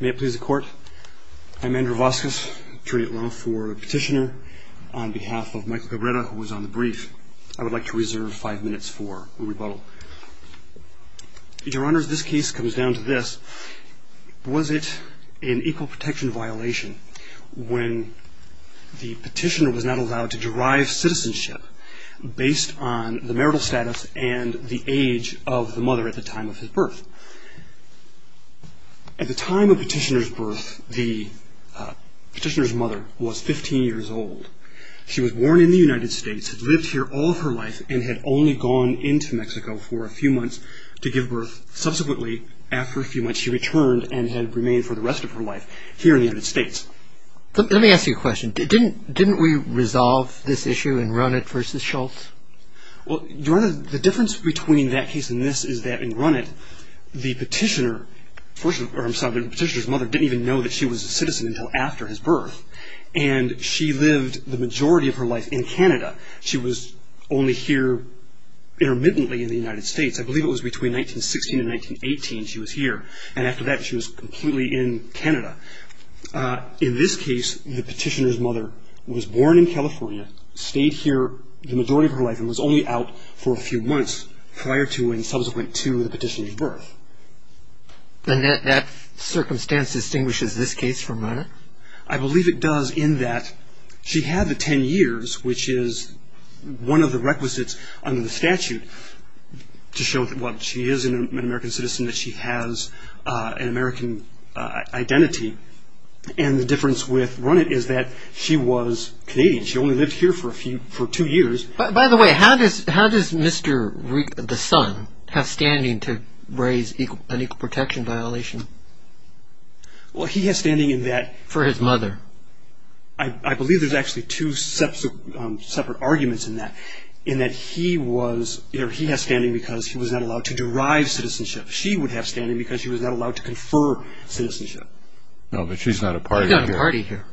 May it please the Court, I'm Andrew Vasquez, jury at law for Petitioner. On behalf of Michael Cabretta, who was on the brief, I would like to reserve five minutes for rebuttal. Your Honor, this case comes down to this. Was it an equal protection violation when the petitioner was not allowed to derive citizenship based on the marital status and the age of the mother at the time of his birth? At the time of the petitioner's birth, the petitioner's mother was 15 years old. She was born in the United States, had lived here all of her life, and had only gone into Mexico for a few months to give birth. Subsequently, after a few months, she returned and had remained for the rest of her life here in the United States. Let me ask you a question. Didn't we resolve this issue in Runnett v. Schultz? Your Honor, the difference between that case and this is that in Runnett, the petitioner's mother didn't even know that she was a citizen until after his birth, and she lived the majority of her life in Canada. She was only here intermittently in the United States. I believe it was between 1916 and 1918 she was here, and after that she was completely in Canada. In this case, the petitioner's mother was born in California, stayed here the majority of her life, and was only out for a few months prior to and subsequent to the petitioner's birth. And that circumstance distinguishes this case from Runnett? I believe it does in that she had the 10 years, which is one of the requisites under the statute to show that she is an American citizen, that she has an American identity. And the difference with Runnett is that she was Canadian. She only lived here for two years. By the way, how does Mr. Rick, the son, have standing to raise an equal protection violation? Well, he has standing in that... For his mother. I believe there's actually two separate arguments in that, in that he has standing because he was not allowed to derive citizenship. She would have standing because she was not allowed to confer citizenship. No, but she's not a party here. She's not a party here.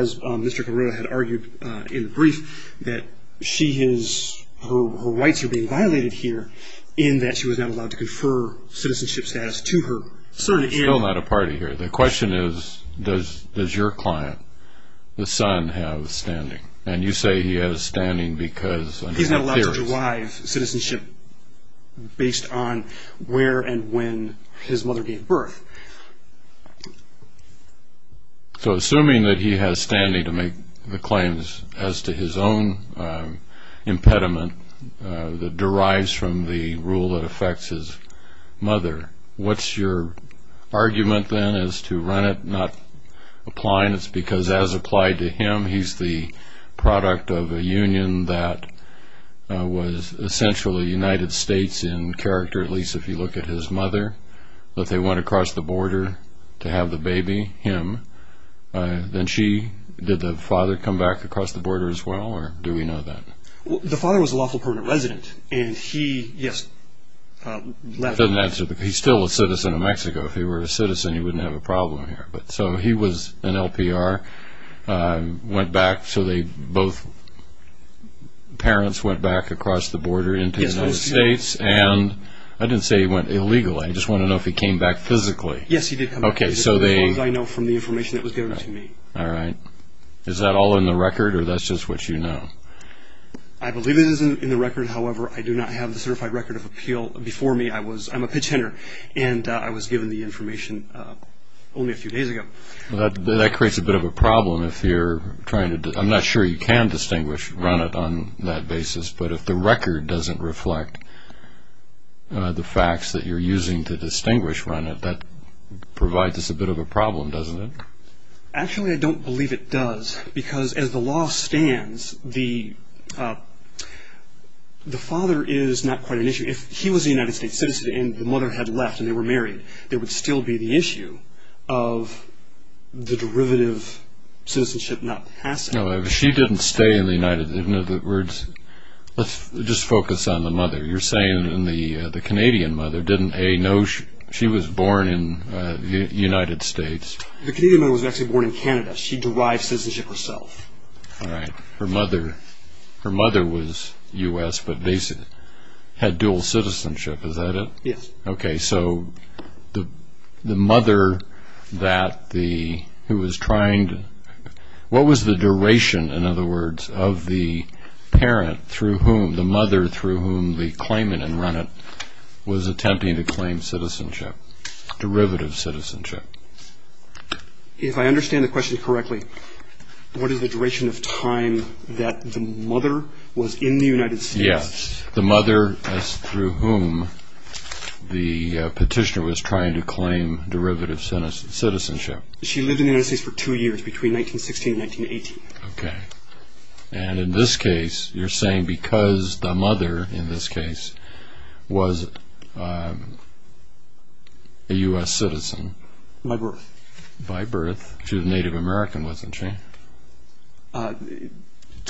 As Mr. Carrillo had argued in the brief, that she is, her rights are being violated here in that she was not allowed to confer citizenship status to her. She's still not a party here. The question is, does your client, the son, have standing? And you say he has standing because... He's not allowed to derive citizenship based on where and when his mother gave birth. So assuming that he has standing to make the claims as to his own impediment that derives from the rule that affects his mother, what's your argument then as to Runnett not applying? It's because as applied to him, he's the product of a union that was essentially United States in character, at least if you look at his mother. If they went across the border to have the baby, him, then she, did the father come back across the border as well, or do we know that? The father was a lawful permanent resident, and he, yes, left. That doesn't answer the, he's still a citizen of Mexico. If he were a citizen, he wouldn't have a problem here. But so he was an LPR, went back, so they both, parents went back across the border into the United States, and I didn't say he went illegally. I just want to know if he came back physically. Yes, he did come back. Okay, so they... As far as I know from the information that was given to me. All right. Is that all in the record, or that's just what you know? I believe it is in the record. However, I do not have the certified record of appeal. Before me, I was, I'm a pitch hitter, and I was given the information only a few days ago. That creates a bit of a problem if you're trying to, I'm not sure you can distinguish Runnett on that basis, but if the record doesn't reflect the facts that you're using to distinguish Runnett, that provides us a bit of a problem, doesn't it? Actually, I don't believe it does, because as the law stands, the father is not quite an issue. If he was a United States citizen and the mother had left and they were married, there would still be the issue of the derivative citizenship not passing. No, she didn't stay in the United, in other words, let's just focus on the mother. You're saying the Canadian mother didn't, A, know she was born in the United States? The Canadian mother was actually born in Canada. She derived citizenship herself. All right. Her mother was U.S., but they had dual citizenship, is that it? Yes. Okay, so the mother that the, who was trying to, what was the duration, in other words, of the parent through whom, the mother through whom the claimant in Runnett was attempting to claim citizenship, derivative citizenship? If I understand the question correctly, what is the duration of time that the mother was in the United States? Yes, the mother through whom the petitioner was trying to claim derivative citizenship. She lived in the United States for two years, between 1916 and 1918. Okay. And in this case, you're saying because the mother, in this case, was a U.S. citizen. By birth. By birth. She was Native American, wasn't she? To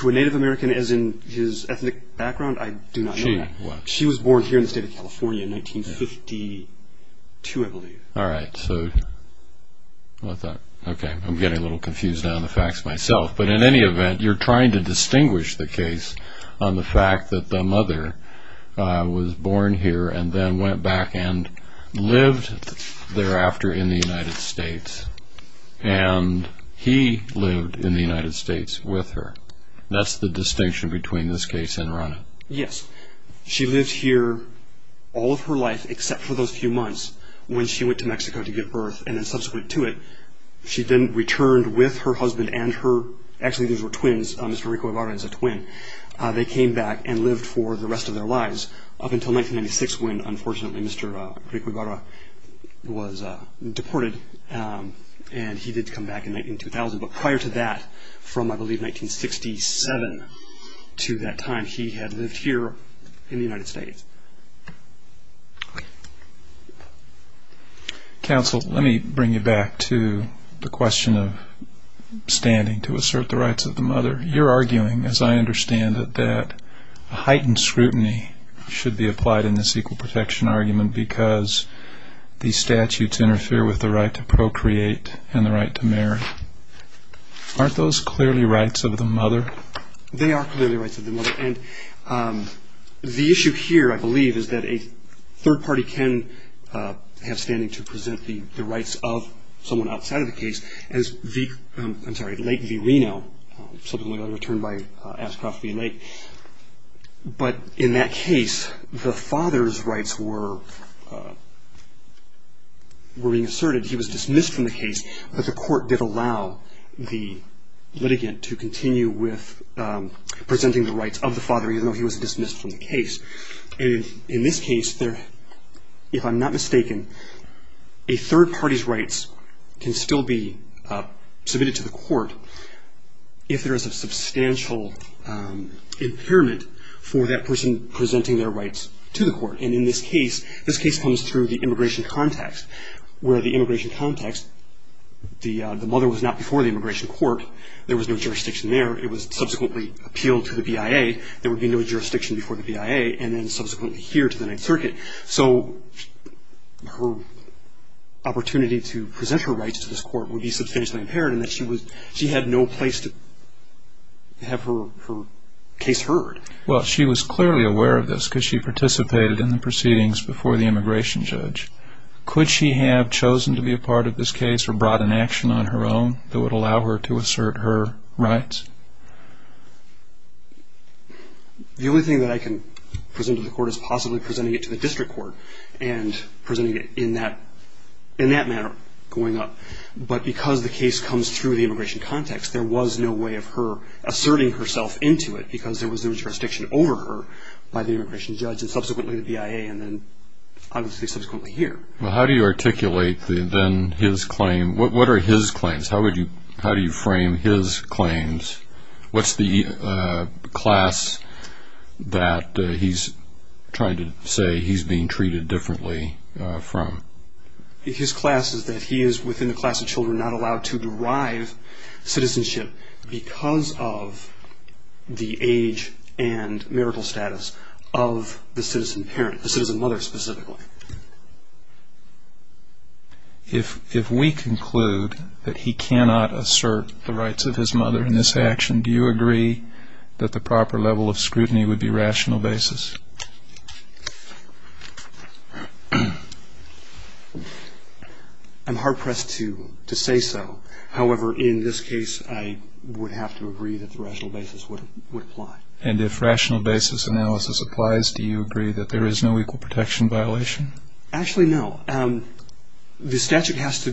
a Native American as in his ethnic background, I do not know that. She was. She was born here in the state of California in 1952, I believe. All right, so, okay, I'm getting a little confused on the facts myself. But in any event, you're trying to distinguish the case on the fact that the mother was born here and then went back and lived thereafter in the United States, and he lived in the United States with her. That's the distinction between this case and Runnett. Yes. She lived here all of her life, except for those few months when she went to Mexico to give birth, and then subsequent to it, she then returned with her husband and her, actually these were twins, Mr. Rico Ibarra is a twin, they came back and lived for the rest of their lives up until 1996 when unfortunately Mr. Rico Ibarra was deported and he did come back in 2000. But prior to that, from I believe 1967 to that time, he had lived here in the United States. Okay. Counsel, let me bring you back to the question of standing to assert the rights of the mother. You're arguing, as I understand it, that heightened scrutiny should be applied in this equal protection argument because these statutes interfere with the right to procreate and the right to marry. Aren't those clearly rights of the mother? They are clearly rights of the mother. The issue here, I believe, is that a third party can have standing to present the rights of someone outside of the case, as the late V. Reno, subsequently returned by Ashcroft v. Lake. But in that case, the father's rights were being asserted. He was dismissed from the case, but the court did allow the litigant to continue with presenting the rights of the father, even though he was dismissed from the case. And in this case, if I'm not mistaken, a third party's rights can still be submitted to the court if there is a substantial impairment for that person presenting their rights to the court. And in this case, this case comes through the immigration context, where the immigration context, the mother was not before the immigration court. There was no jurisdiction there. It was subsequently appealed to the BIA. There would be no jurisdiction before the BIA, and then subsequently here to the Ninth Circuit. So her opportunity to present her rights to this court would be substantially impaired in that she had no place to have her case heard. Well, she was clearly aware of this because she participated in the proceedings before the immigration judge. Could she have chosen to be a part of this case or brought an action on her own that would allow her to assert her rights? The only thing that I can present to the court is possibly presenting it to the district court and presenting it in that manner going up. But because the case comes through the immigration context, there was no way of her asserting herself into it because there was no jurisdiction over her by the immigration judge and subsequently the BIA and then obviously subsequently here. Well, how do you articulate then his claim? What are his claims? How do you frame his claims? What's the class that he's trying to say he's being treated differently from? His class is that he is within the class of children not allowed to derive citizenship because of the age and marital status of the citizen parent, the citizen mother specifically. If we conclude that he cannot assert the rights of his mother in this action, do you agree that the proper level of scrutiny would be rational basis? I'm hard pressed to say so. However, in this case, I would have to agree that the rational basis would apply. And if rational basis analysis applies, do you agree that there is no equal protection violation? Actually, no. The statute has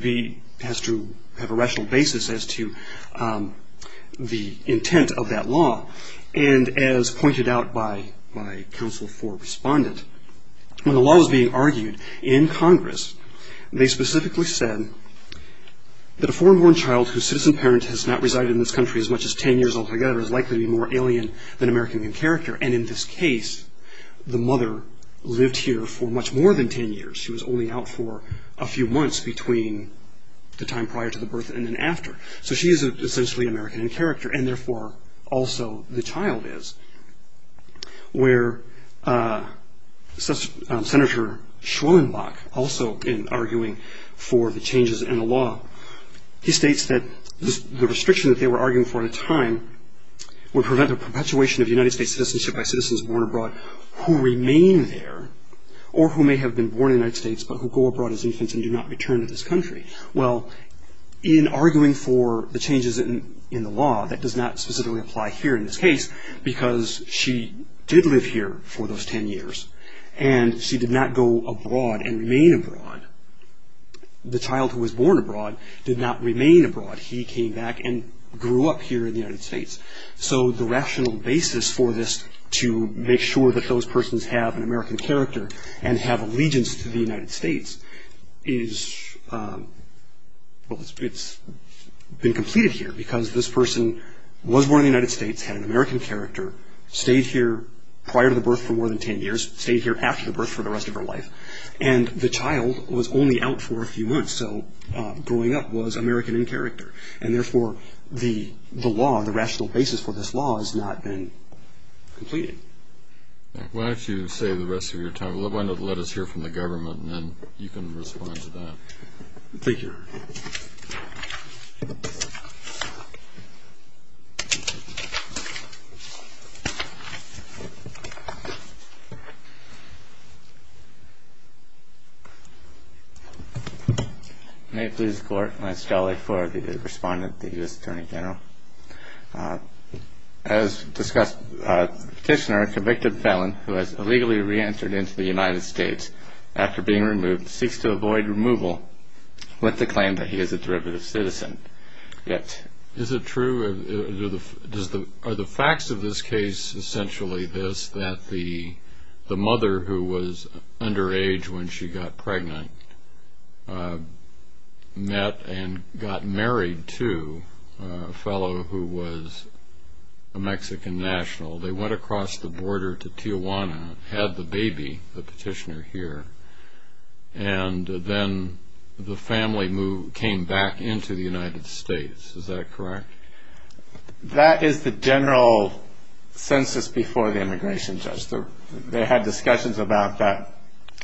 to have a rational basis as to the intent of that law. And as pointed out by Council for Respondent, when the law was being argued in Congress, they specifically said that a foreign-born child whose citizen parent has not resided in this country as much as 10 years altogether is likely to be more alien than American in character. And in this case, the mother lived here for much more than 10 years. She was only out for a few months between the time prior to the birth and then after. So she is essentially American in character, and therefore also the child is. Where Senator Schwellenbach, also in arguing for the changes in the law, he states that the restriction that they were arguing for at the time would prevent the perpetuation of United States citizenship by citizens born abroad who remain there or who may have been born in the United States but who go abroad as infants and do not return to this country. Well, in arguing for the changes in the law, that does not specifically apply here in this case because she did live here for those 10 years, and she did not go abroad and remain abroad. The child who was born abroad did not remain abroad. He came back and grew up here in the United States. So the rational basis for this to make sure that those persons have an American character and have allegiance to the United States is, well, it's been completed here because this person was born in the United States, had an American character, stayed here prior to the birth for more than 10 years, stayed here after the birth for the rest of her life, and the child was only out for a few months, so growing up was American in character. And therefore, the law, the rational basis for this law has not been completed. Why don't you save the rest of your time? Why don't you let us hear from the government, and then you can respond to that. Thank you, Your Honor. May it please the Court. I install it for the respondent, the U.S. Attorney General. As discussed, the petitioner, a convicted felon who has illegally re-entered into the United States after being removed, seeks to avoid removal with the claim that he is a derivative citizen. Is it true, are the facts of this case essentially this, that the mother who was underage when she got pregnant met and got married to a fellow who was a Mexican national? They went across the border to Tijuana, had the baby, the petitioner here, and then the family came back into the United States. Is that correct? That is the general census before the immigration judge. They had discussions about that.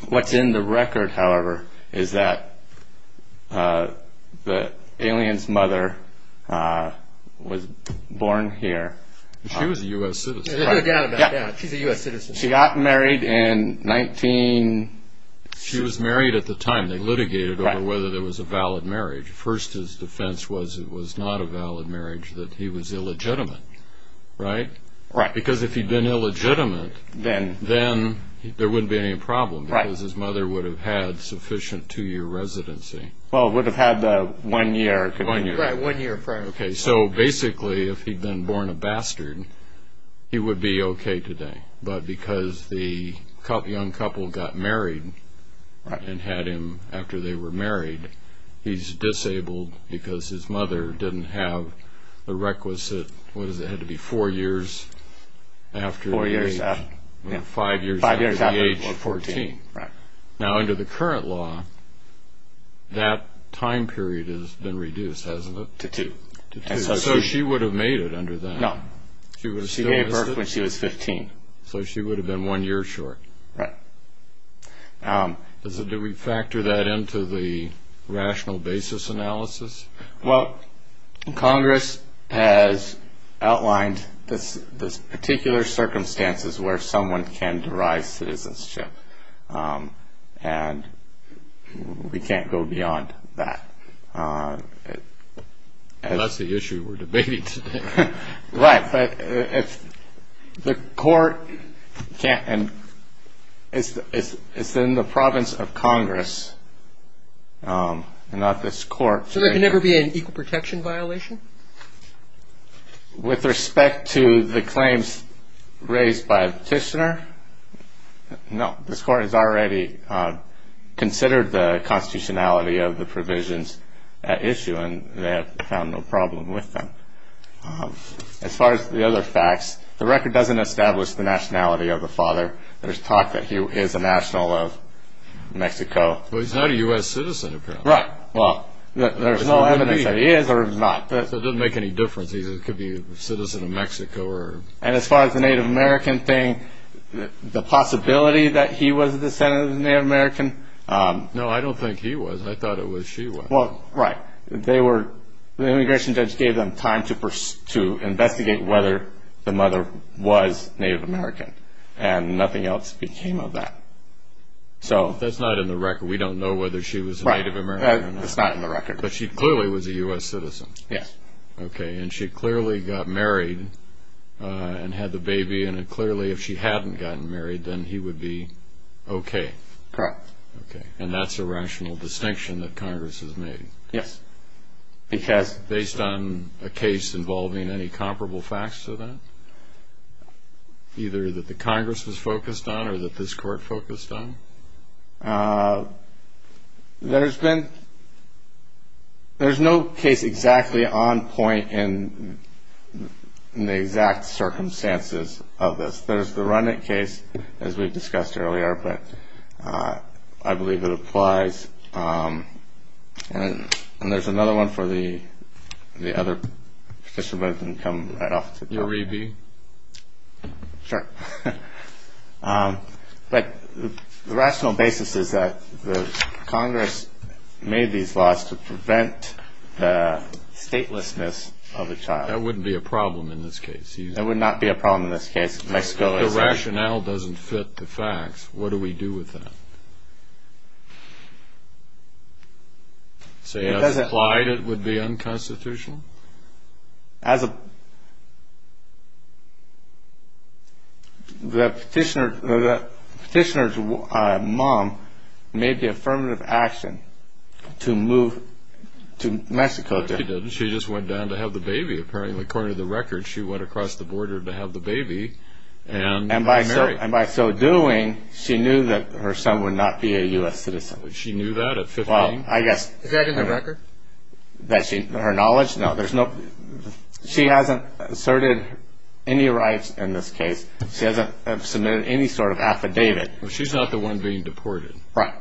What's in the record, however, is that the alien's mother was born here. She was a U.S. citizen. She's a U.S. citizen. She got married in 1966. She was married at the time. They litigated over whether there was a valid marriage. First, his defense was it was not a valid marriage, that he was illegitimate, right? Right. Because if he'd been illegitimate, then there wouldn't be any problem because his mother would have had sufficient two-year residency. Well, would have had the one year. Right, one year prior. Okay, so basically if he'd been born a bastard, he would be okay today. But because the young couple got married and had him after they were married, he's disabled because his mother didn't have the requisite, what is it, had to be four years after the age of 14. Now, under the current law, that time period has been reduced, hasn't it? To two. So she would have made it under that. No. So she gave birth when she was 15. So she would have been one year short. Right. Do we factor that into the rational basis analysis? Well, Congress has outlined the particular circumstances where someone can derive citizenship, and we can't go beyond that. That's the issue we're debating today. Right. But if the court can't and it's in the province of Congress and not this court. So there can never be an equal protection violation? With respect to the claims raised by the petitioner, no. This court has already considered the constitutionality of the provisions at issue, and they have found no problem with them. As far as the other facts, the record doesn't establish the nationality of the father. There's talk that he is a national of Mexico. Well, he's not a U.S. citizen, apparently. Right. Well, there's no evidence that he is or is not. So it doesn't make any difference. He could be a citizen of Mexico. And as far as the Native American thing, the possibility that he was a descendant of the Native American? No, I don't think he was. I thought it was she was. Well, right. The immigration judge gave them time to investigate whether the mother was Native American, and nothing else became of that. That's not in the record. We don't know whether she was a Native American. Right. That's not in the record. But she clearly was a U.S. citizen. Yes. Okay. And she clearly got married and had the baby. And clearly, if she hadn't gotten married, then he would be okay. Correct. Okay. And that's a rational distinction that Congress has made? Yes. Because? Based on a case involving any comparable facts to that, either that the Congress was focused on or that this Court focused on? There's been no case exactly on point in the exact circumstances of this. There's the Rudnick case, as we've discussed earlier, but I believe it applies. And there's another one for the other participants, and we'll come right off to that. Your A.B.? Sure. But the rational basis is that Congress made these laws to prevent the statelessness of a child. That wouldn't be a problem in this case. That would not be a problem in this case. If the rationale doesn't fit the facts, what do we do with that? Say, as implied, it would be unconstitutional? The petitioner's mom made the affirmative action to move to Mexico. She didn't. She just went down to have the baby. Apparently, according to the record, she went across the border to have the baby and marry. And by so doing, she knew that her son would not be a U.S. citizen. She knew that at 15? Is that in the record? Her knowledge? No. She hasn't asserted any rights in this case. She hasn't submitted any sort of affidavit. She's not the one being deported. Right.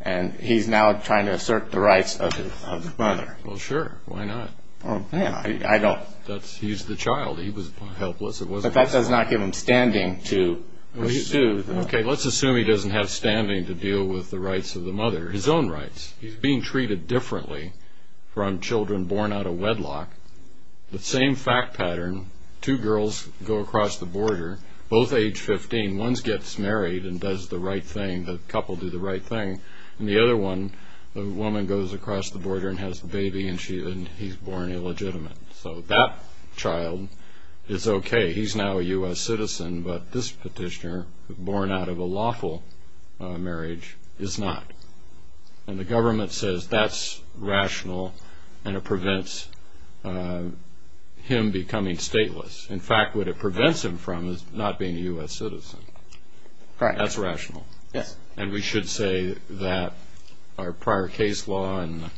And he's now trying to assert the rights of his mother. Well, sure. Why not? I don't. He's the child. He was helpless. But that does not give him standing to sue. Okay, let's assume he doesn't have standing to deal with the rights of the mother. His own rights. He's being treated differently from children born out of wedlock. The same fact pattern. Two girls go across the border, both age 15. One gets married and does the right thing. The couple do the right thing. And the other one, the woman goes across the border and has the baby, and he's born illegitimate. So that child is okay. He's now a U.S. citizen, but this petitioner, born out of a lawful marriage, is not. And the government says that's rational and it prevents him becoming stateless. In fact, what it prevents him from is not being a U.S. citizen. Right. That's rational. Yes. And we should say that our prior case law and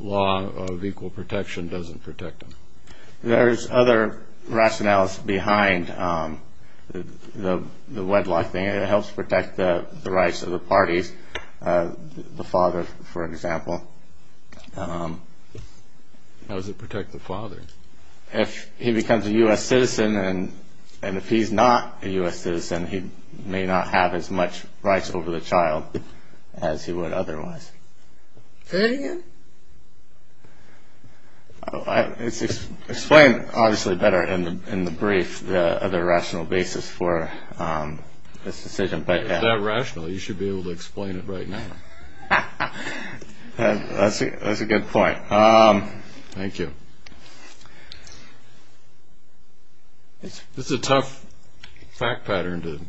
law of equal protection doesn't protect him. There's other rationales behind the wedlock thing. It helps protect the rights of the parties, the father, for example. How does it protect the father? If he becomes a U.S. citizen and if he's not a U.S. citizen, he may not have as much rights over the child as he would otherwise. Say that again. It's explained, obviously, better in the brief, the other rational basis for this decision. If that's rational, you should be able to explain it right now. That's a good point. Thank you. It's a tough fact pattern to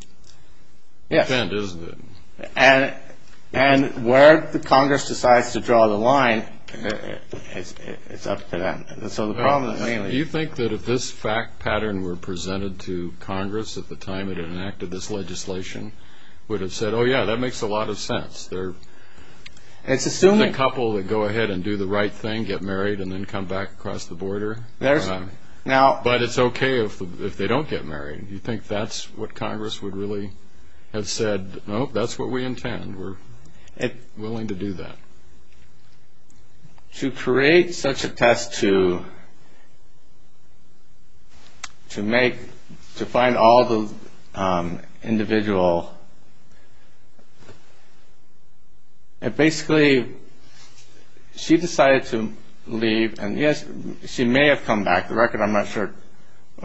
defend, isn't it? Yes. And where Congress decides to draw the line, it's up to them. So the problem is mainly – Do you think that if this fact pattern were presented to Congress at the time it enacted this legislation, would it have said, oh, yeah, that makes a lot of sense? There's a couple that go ahead and do the right thing, get married, and then come back across the border. But it's okay if they don't get married. Do you think that's what Congress would really have said? No, that's what we intend. We're willing to do that. To create such a test to make – to find all the individual – basically, she decided to leave. And, yes, she may have come back. The record, I'm not sure,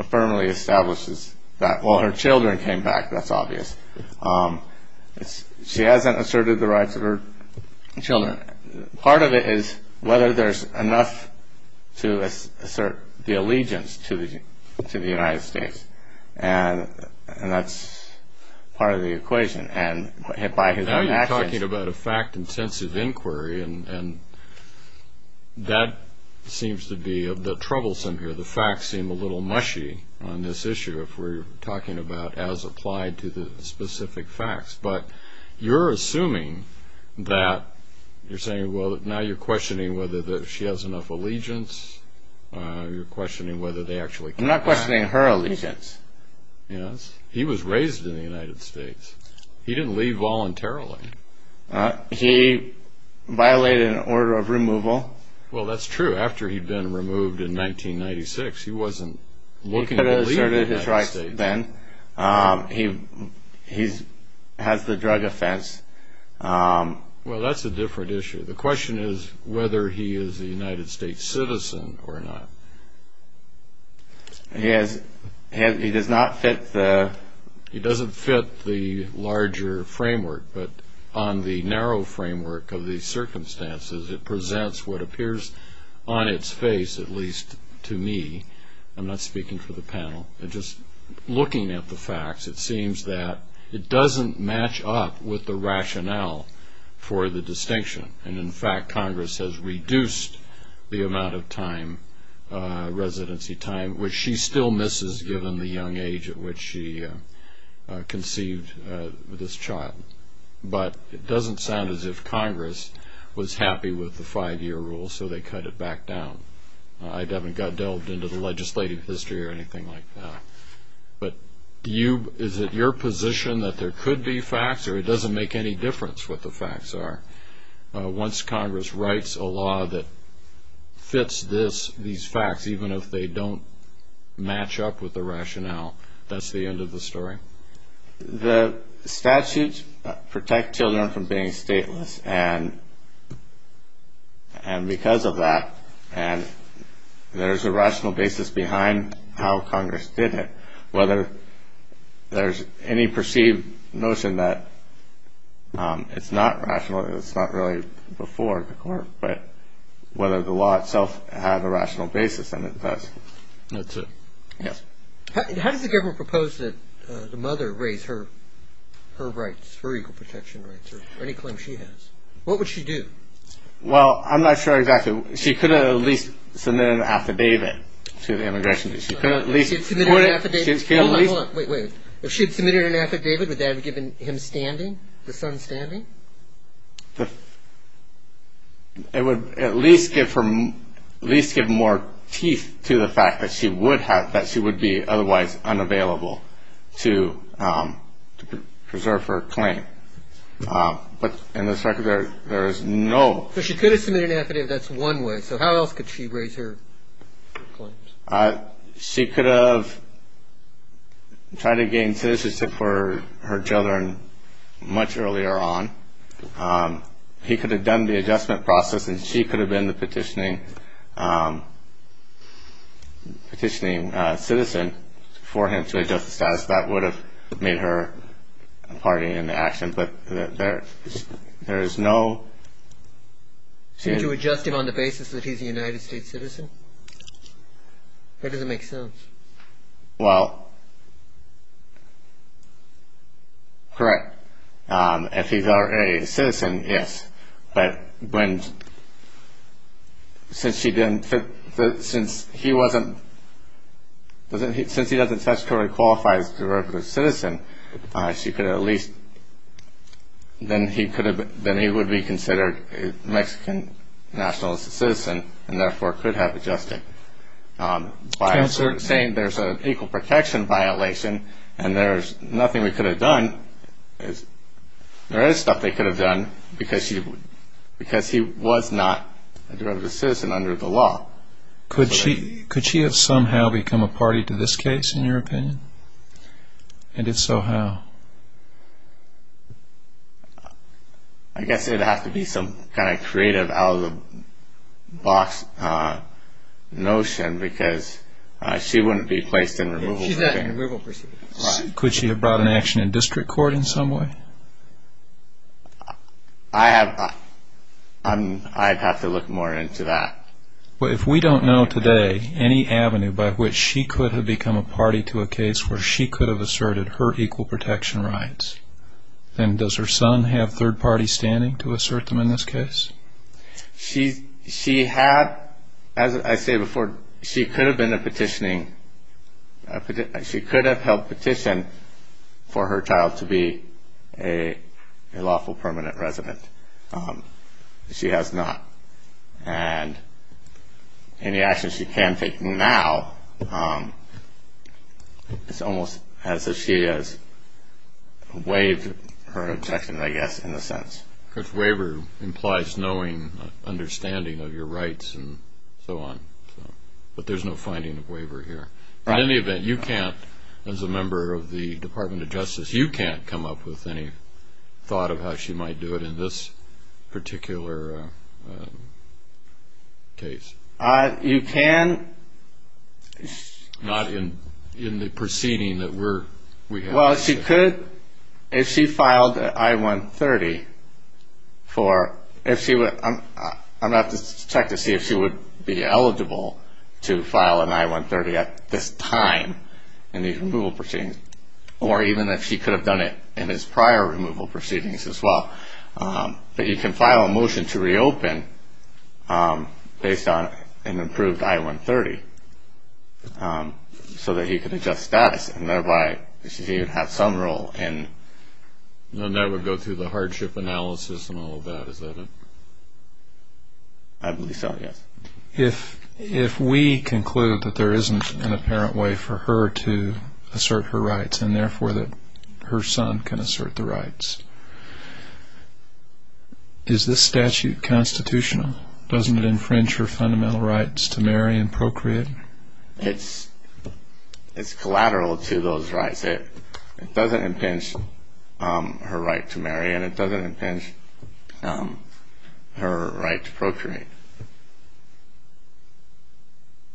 firmly establishes that. Well, her children came back. That's obvious. She hasn't asserted the rights of her children. Part of it is whether there's enough to assert the allegiance to the United States. And that's part of the equation. And by his actions – Now you're talking about a fact-intensive inquiry, and that seems to be the troublesome here. The facts seem a little mushy on this issue if we're talking about as applied to the specific facts. But you're assuming that – you're saying, well, now you're questioning whether she has enough allegiance. You're questioning whether they actually came back. I'm not questioning her allegiance. Yes. He was raised in the United States. He didn't leave voluntarily. He violated an order of removal. Well, that's true. After he'd been removed in 1996, he wasn't looking to leave the United States. He could have asserted his rights then. He has the drug offense. Well, that's a different issue. The question is whether he is a United States citizen or not. He does not fit the – He doesn't fit the larger framework. But on the narrow framework of these circumstances, it presents what appears on its face, at least to me – I'm not speaking for the panel. Just looking at the facts, it seems that it doesn't match up with the rationale for the distinction. And, in fact, Congress has reduced the amount of time, residency time, which she still misses given the young age at which she conceived this child. But it doesn't sound as if Congress was happy with the five-year rule, so they cut it back down. I haven't got delved into the legislative history or anything like that. But is it your position that there could be facts, or it doesn't make any difference what the facts are? Once Congress writes a law that fits these facts, even if they don't match up with the rationale, that's the end of the story? The statutes protect children from being stateless. And because of that, there's a rational basis behind how Congress did it. Whether there's any perceived notion that it's not rational, it's not really before the court, but whether the law itself had a rational basis, and it does. That's it. Yes. How does the government propose that the mother raise her rights, her equal protection rights, or any claim she has? What would she do? Well, I'm not sure exactly. She could have at least submitted an affidavit to the immigration. She could have at least submitted an affidavit. Wait, wait, wait. If she had submitted an affidavit, would that have given him standing, the son standing? It would at least give more teeth to the fact that she would be otherwise unavailable to preserve her claim. But in this record, there is no. So she could have submitted an affidavit. That's one way. So how else could she raise her claims? She could have tried to gain citizenship for her children much earlier on. He could have done the adjustment process, and she could have been the petitioning citizen for him to adjust the status. That would have made her party in the action. But there is no. So would you adjust him on the basis that he's a United States citizen? That doesn't make sense. Well, correct. If he's a citizen, yes. But since he doesn't statutorily qualify as a direct citizen, then he would be considered a Mexican nationalist citizen and therefore could have adjusted. By saying there's an equal protection violation and there's nothing we could have done, there is stuff they could have done because he was not a direct citizen under the law. Could she have somehow become a party to this case, in your opinion? And if so, how? I guess it would have to be some kind of creative out-of-the-box notion because she wouldn't be placed in removal proceedings. She's not in removal proceedings. Could she have brought an action in district court in some way? I'd have to look more into that. Well, if we don't know today any avenue by which she could have become a party to a case where she could have asserted her equal protection rights, then does her son have third party standing to assert them in this case? She had, as I say before, she could have been a petitioning, she could have held petition for her child to be a lawful permanent resident. She has not. And any action she can take now is almost as if she has waived her objection, I guess, in a sense. Because waiver implies knowing, understanding of your rights and so on. But there's no finding of waiver here. In any event, you can't, as a member of the Department of Justice, you can't come up with any thought of how she might do it in this particular case. You can. Not in the proceeding that we have. Well, she could, if she filed an I-130 for, if she would, I'm going to have to check to see if she would be eligible to file an I-130 at this time in the removal proceedings. Or even if she could have done it in his prior removal proceedings as well. But you can file a motion to reopen based on an improved I-130 so that he could adjust status and thereby she would have some role in. And that would go through the hardship analysis and all of that, is that it? I believe so, yes. If we conclude that there isn't an apparent way for her to assert her rights and therefore that her son can assert the rights, is this statute constitutional? Doesn't it infringe her fundamental rights to marry and procreate? It's collateral to those rights. It doesn't infringe her right to marry and it doesn't infringe her right to procreate.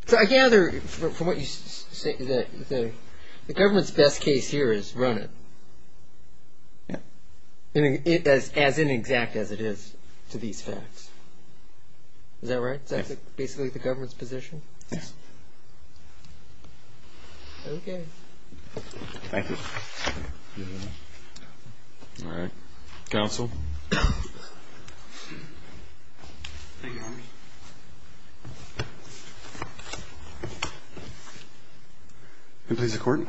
So I gather, from what you say, that the government's best case here is run it. As inexact as it is to these facts. Is that right? That's basically the government's position? Yes. Okay. Thank you. All right. Counsel? Thank you, Your Honor. Can I please have a court?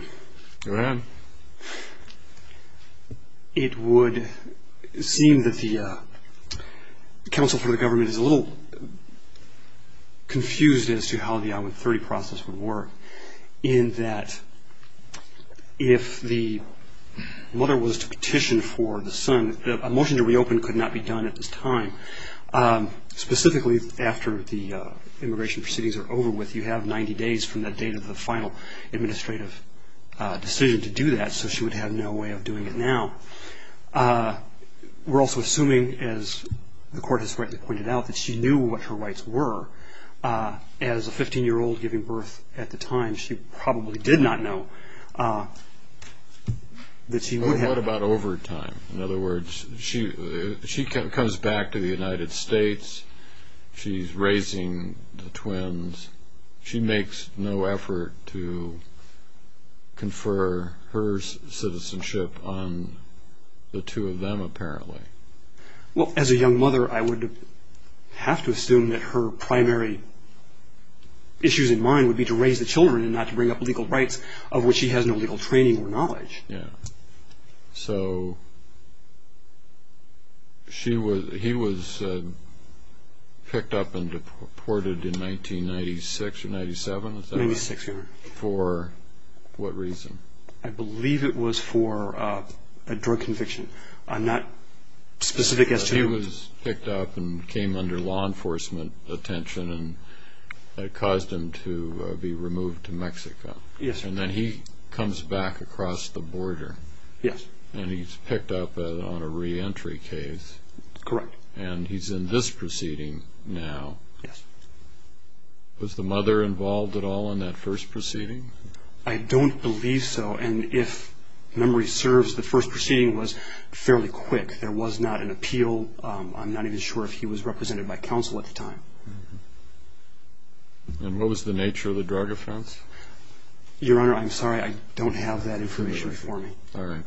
Go ahead. Your Honor, it would seem that the counsel for the government is a little confused as to how the I-130 process would work in that if the mother was to petition for the son, a motion to reopen could not be done at this time. Specifically after the immigration proceedings are over with, if you have 90 days from the date of the final administrative decision to do that. So she would have no way of doing it now. We're also assuming, as the court has rightly pointed out, that she knew what her rights were. As a 15-year-old giving birth at the time, she probably did not know that she would have... What about over time? In other words, she comes back to the United States. She's raising the twins. She makes no effort to confer her citizenship on the two of them, apparently. Well, as a young mother, I would have to assume that her primary issues in mind would be to raise the children and not to bring up legal rights of which she has no legal training or knowledge. Yeah. So he was picked up and deported in 1996 or 97, is that right? 1996, your Honor. For what reason? I believe it was for a drug conviction. I'm not specific as to... But he was picked up and came under law enforcement attention and it caused him to be removed to Mexico. Yes, Your Honor. And then he comes back across the border. Yes. And he's picked up on a reentry case. Correct. And he's in this proceeding now. Yes. Was the mother involved at all in that first proceeding? I don't believe so. And if memory serves, the first proceeding was fairly quick. There was not an appeal. I'm not even sure if he was represented by counsel at the time. And what was the nature of the drug offense? Your Honor, I'm sorry. I don't have that information for me. All right.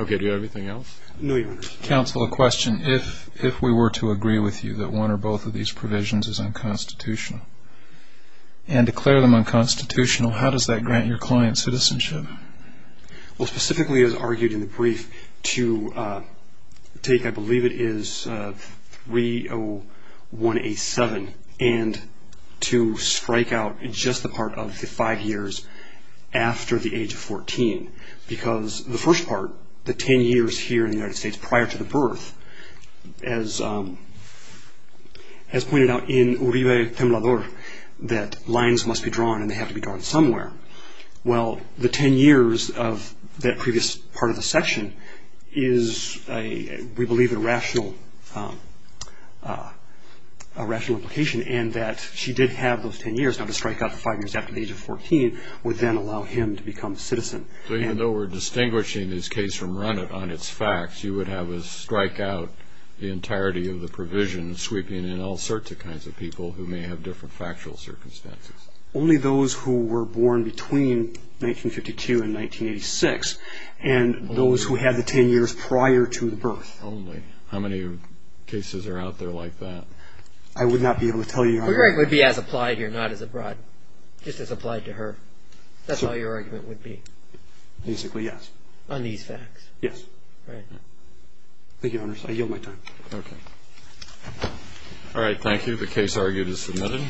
Okay, do you have anything else? No, Your Honor. Counsel, a question. If we were to agree with you that one or both of these provisions is unconstitutional and declare them unconstitutional, how does that grant your client citizenship? Well, specifically, as argued in the brief, to take, I believe it is 30187, and to strike out just the part of the five years after the age of 14. Because the first part, the 10 years here in the United States prior to the birth, as pointed out in Uribe Temblador, that lines must be drawn and they have to be drawn somewhere. Well, the 10 years of that previous part of the section is, we believe, a rational implication, and that she did have those 10 years. Now, to strike out the five years after the age of 14 would then allow him to become a citizen. So even though we're distinguishing this case from run it on its facts, you would have us strike out the entirety of the provision, sweeping in all sorts of kinds of people who may have different factual circumstances. Only those who were born between 1952 and 1986, and those who had the 10 years prior to the birth. Only. How many cases are out there like that? I would not be able to tell you. Uribe would be as applied here, not as abroad. Just as applied to her. That's all your argument would be. Basically, yes. On these facts. Yes. Right. Thank you, Your Honors. I yield my time. Okay. All right, thank you. The case argued is submitted.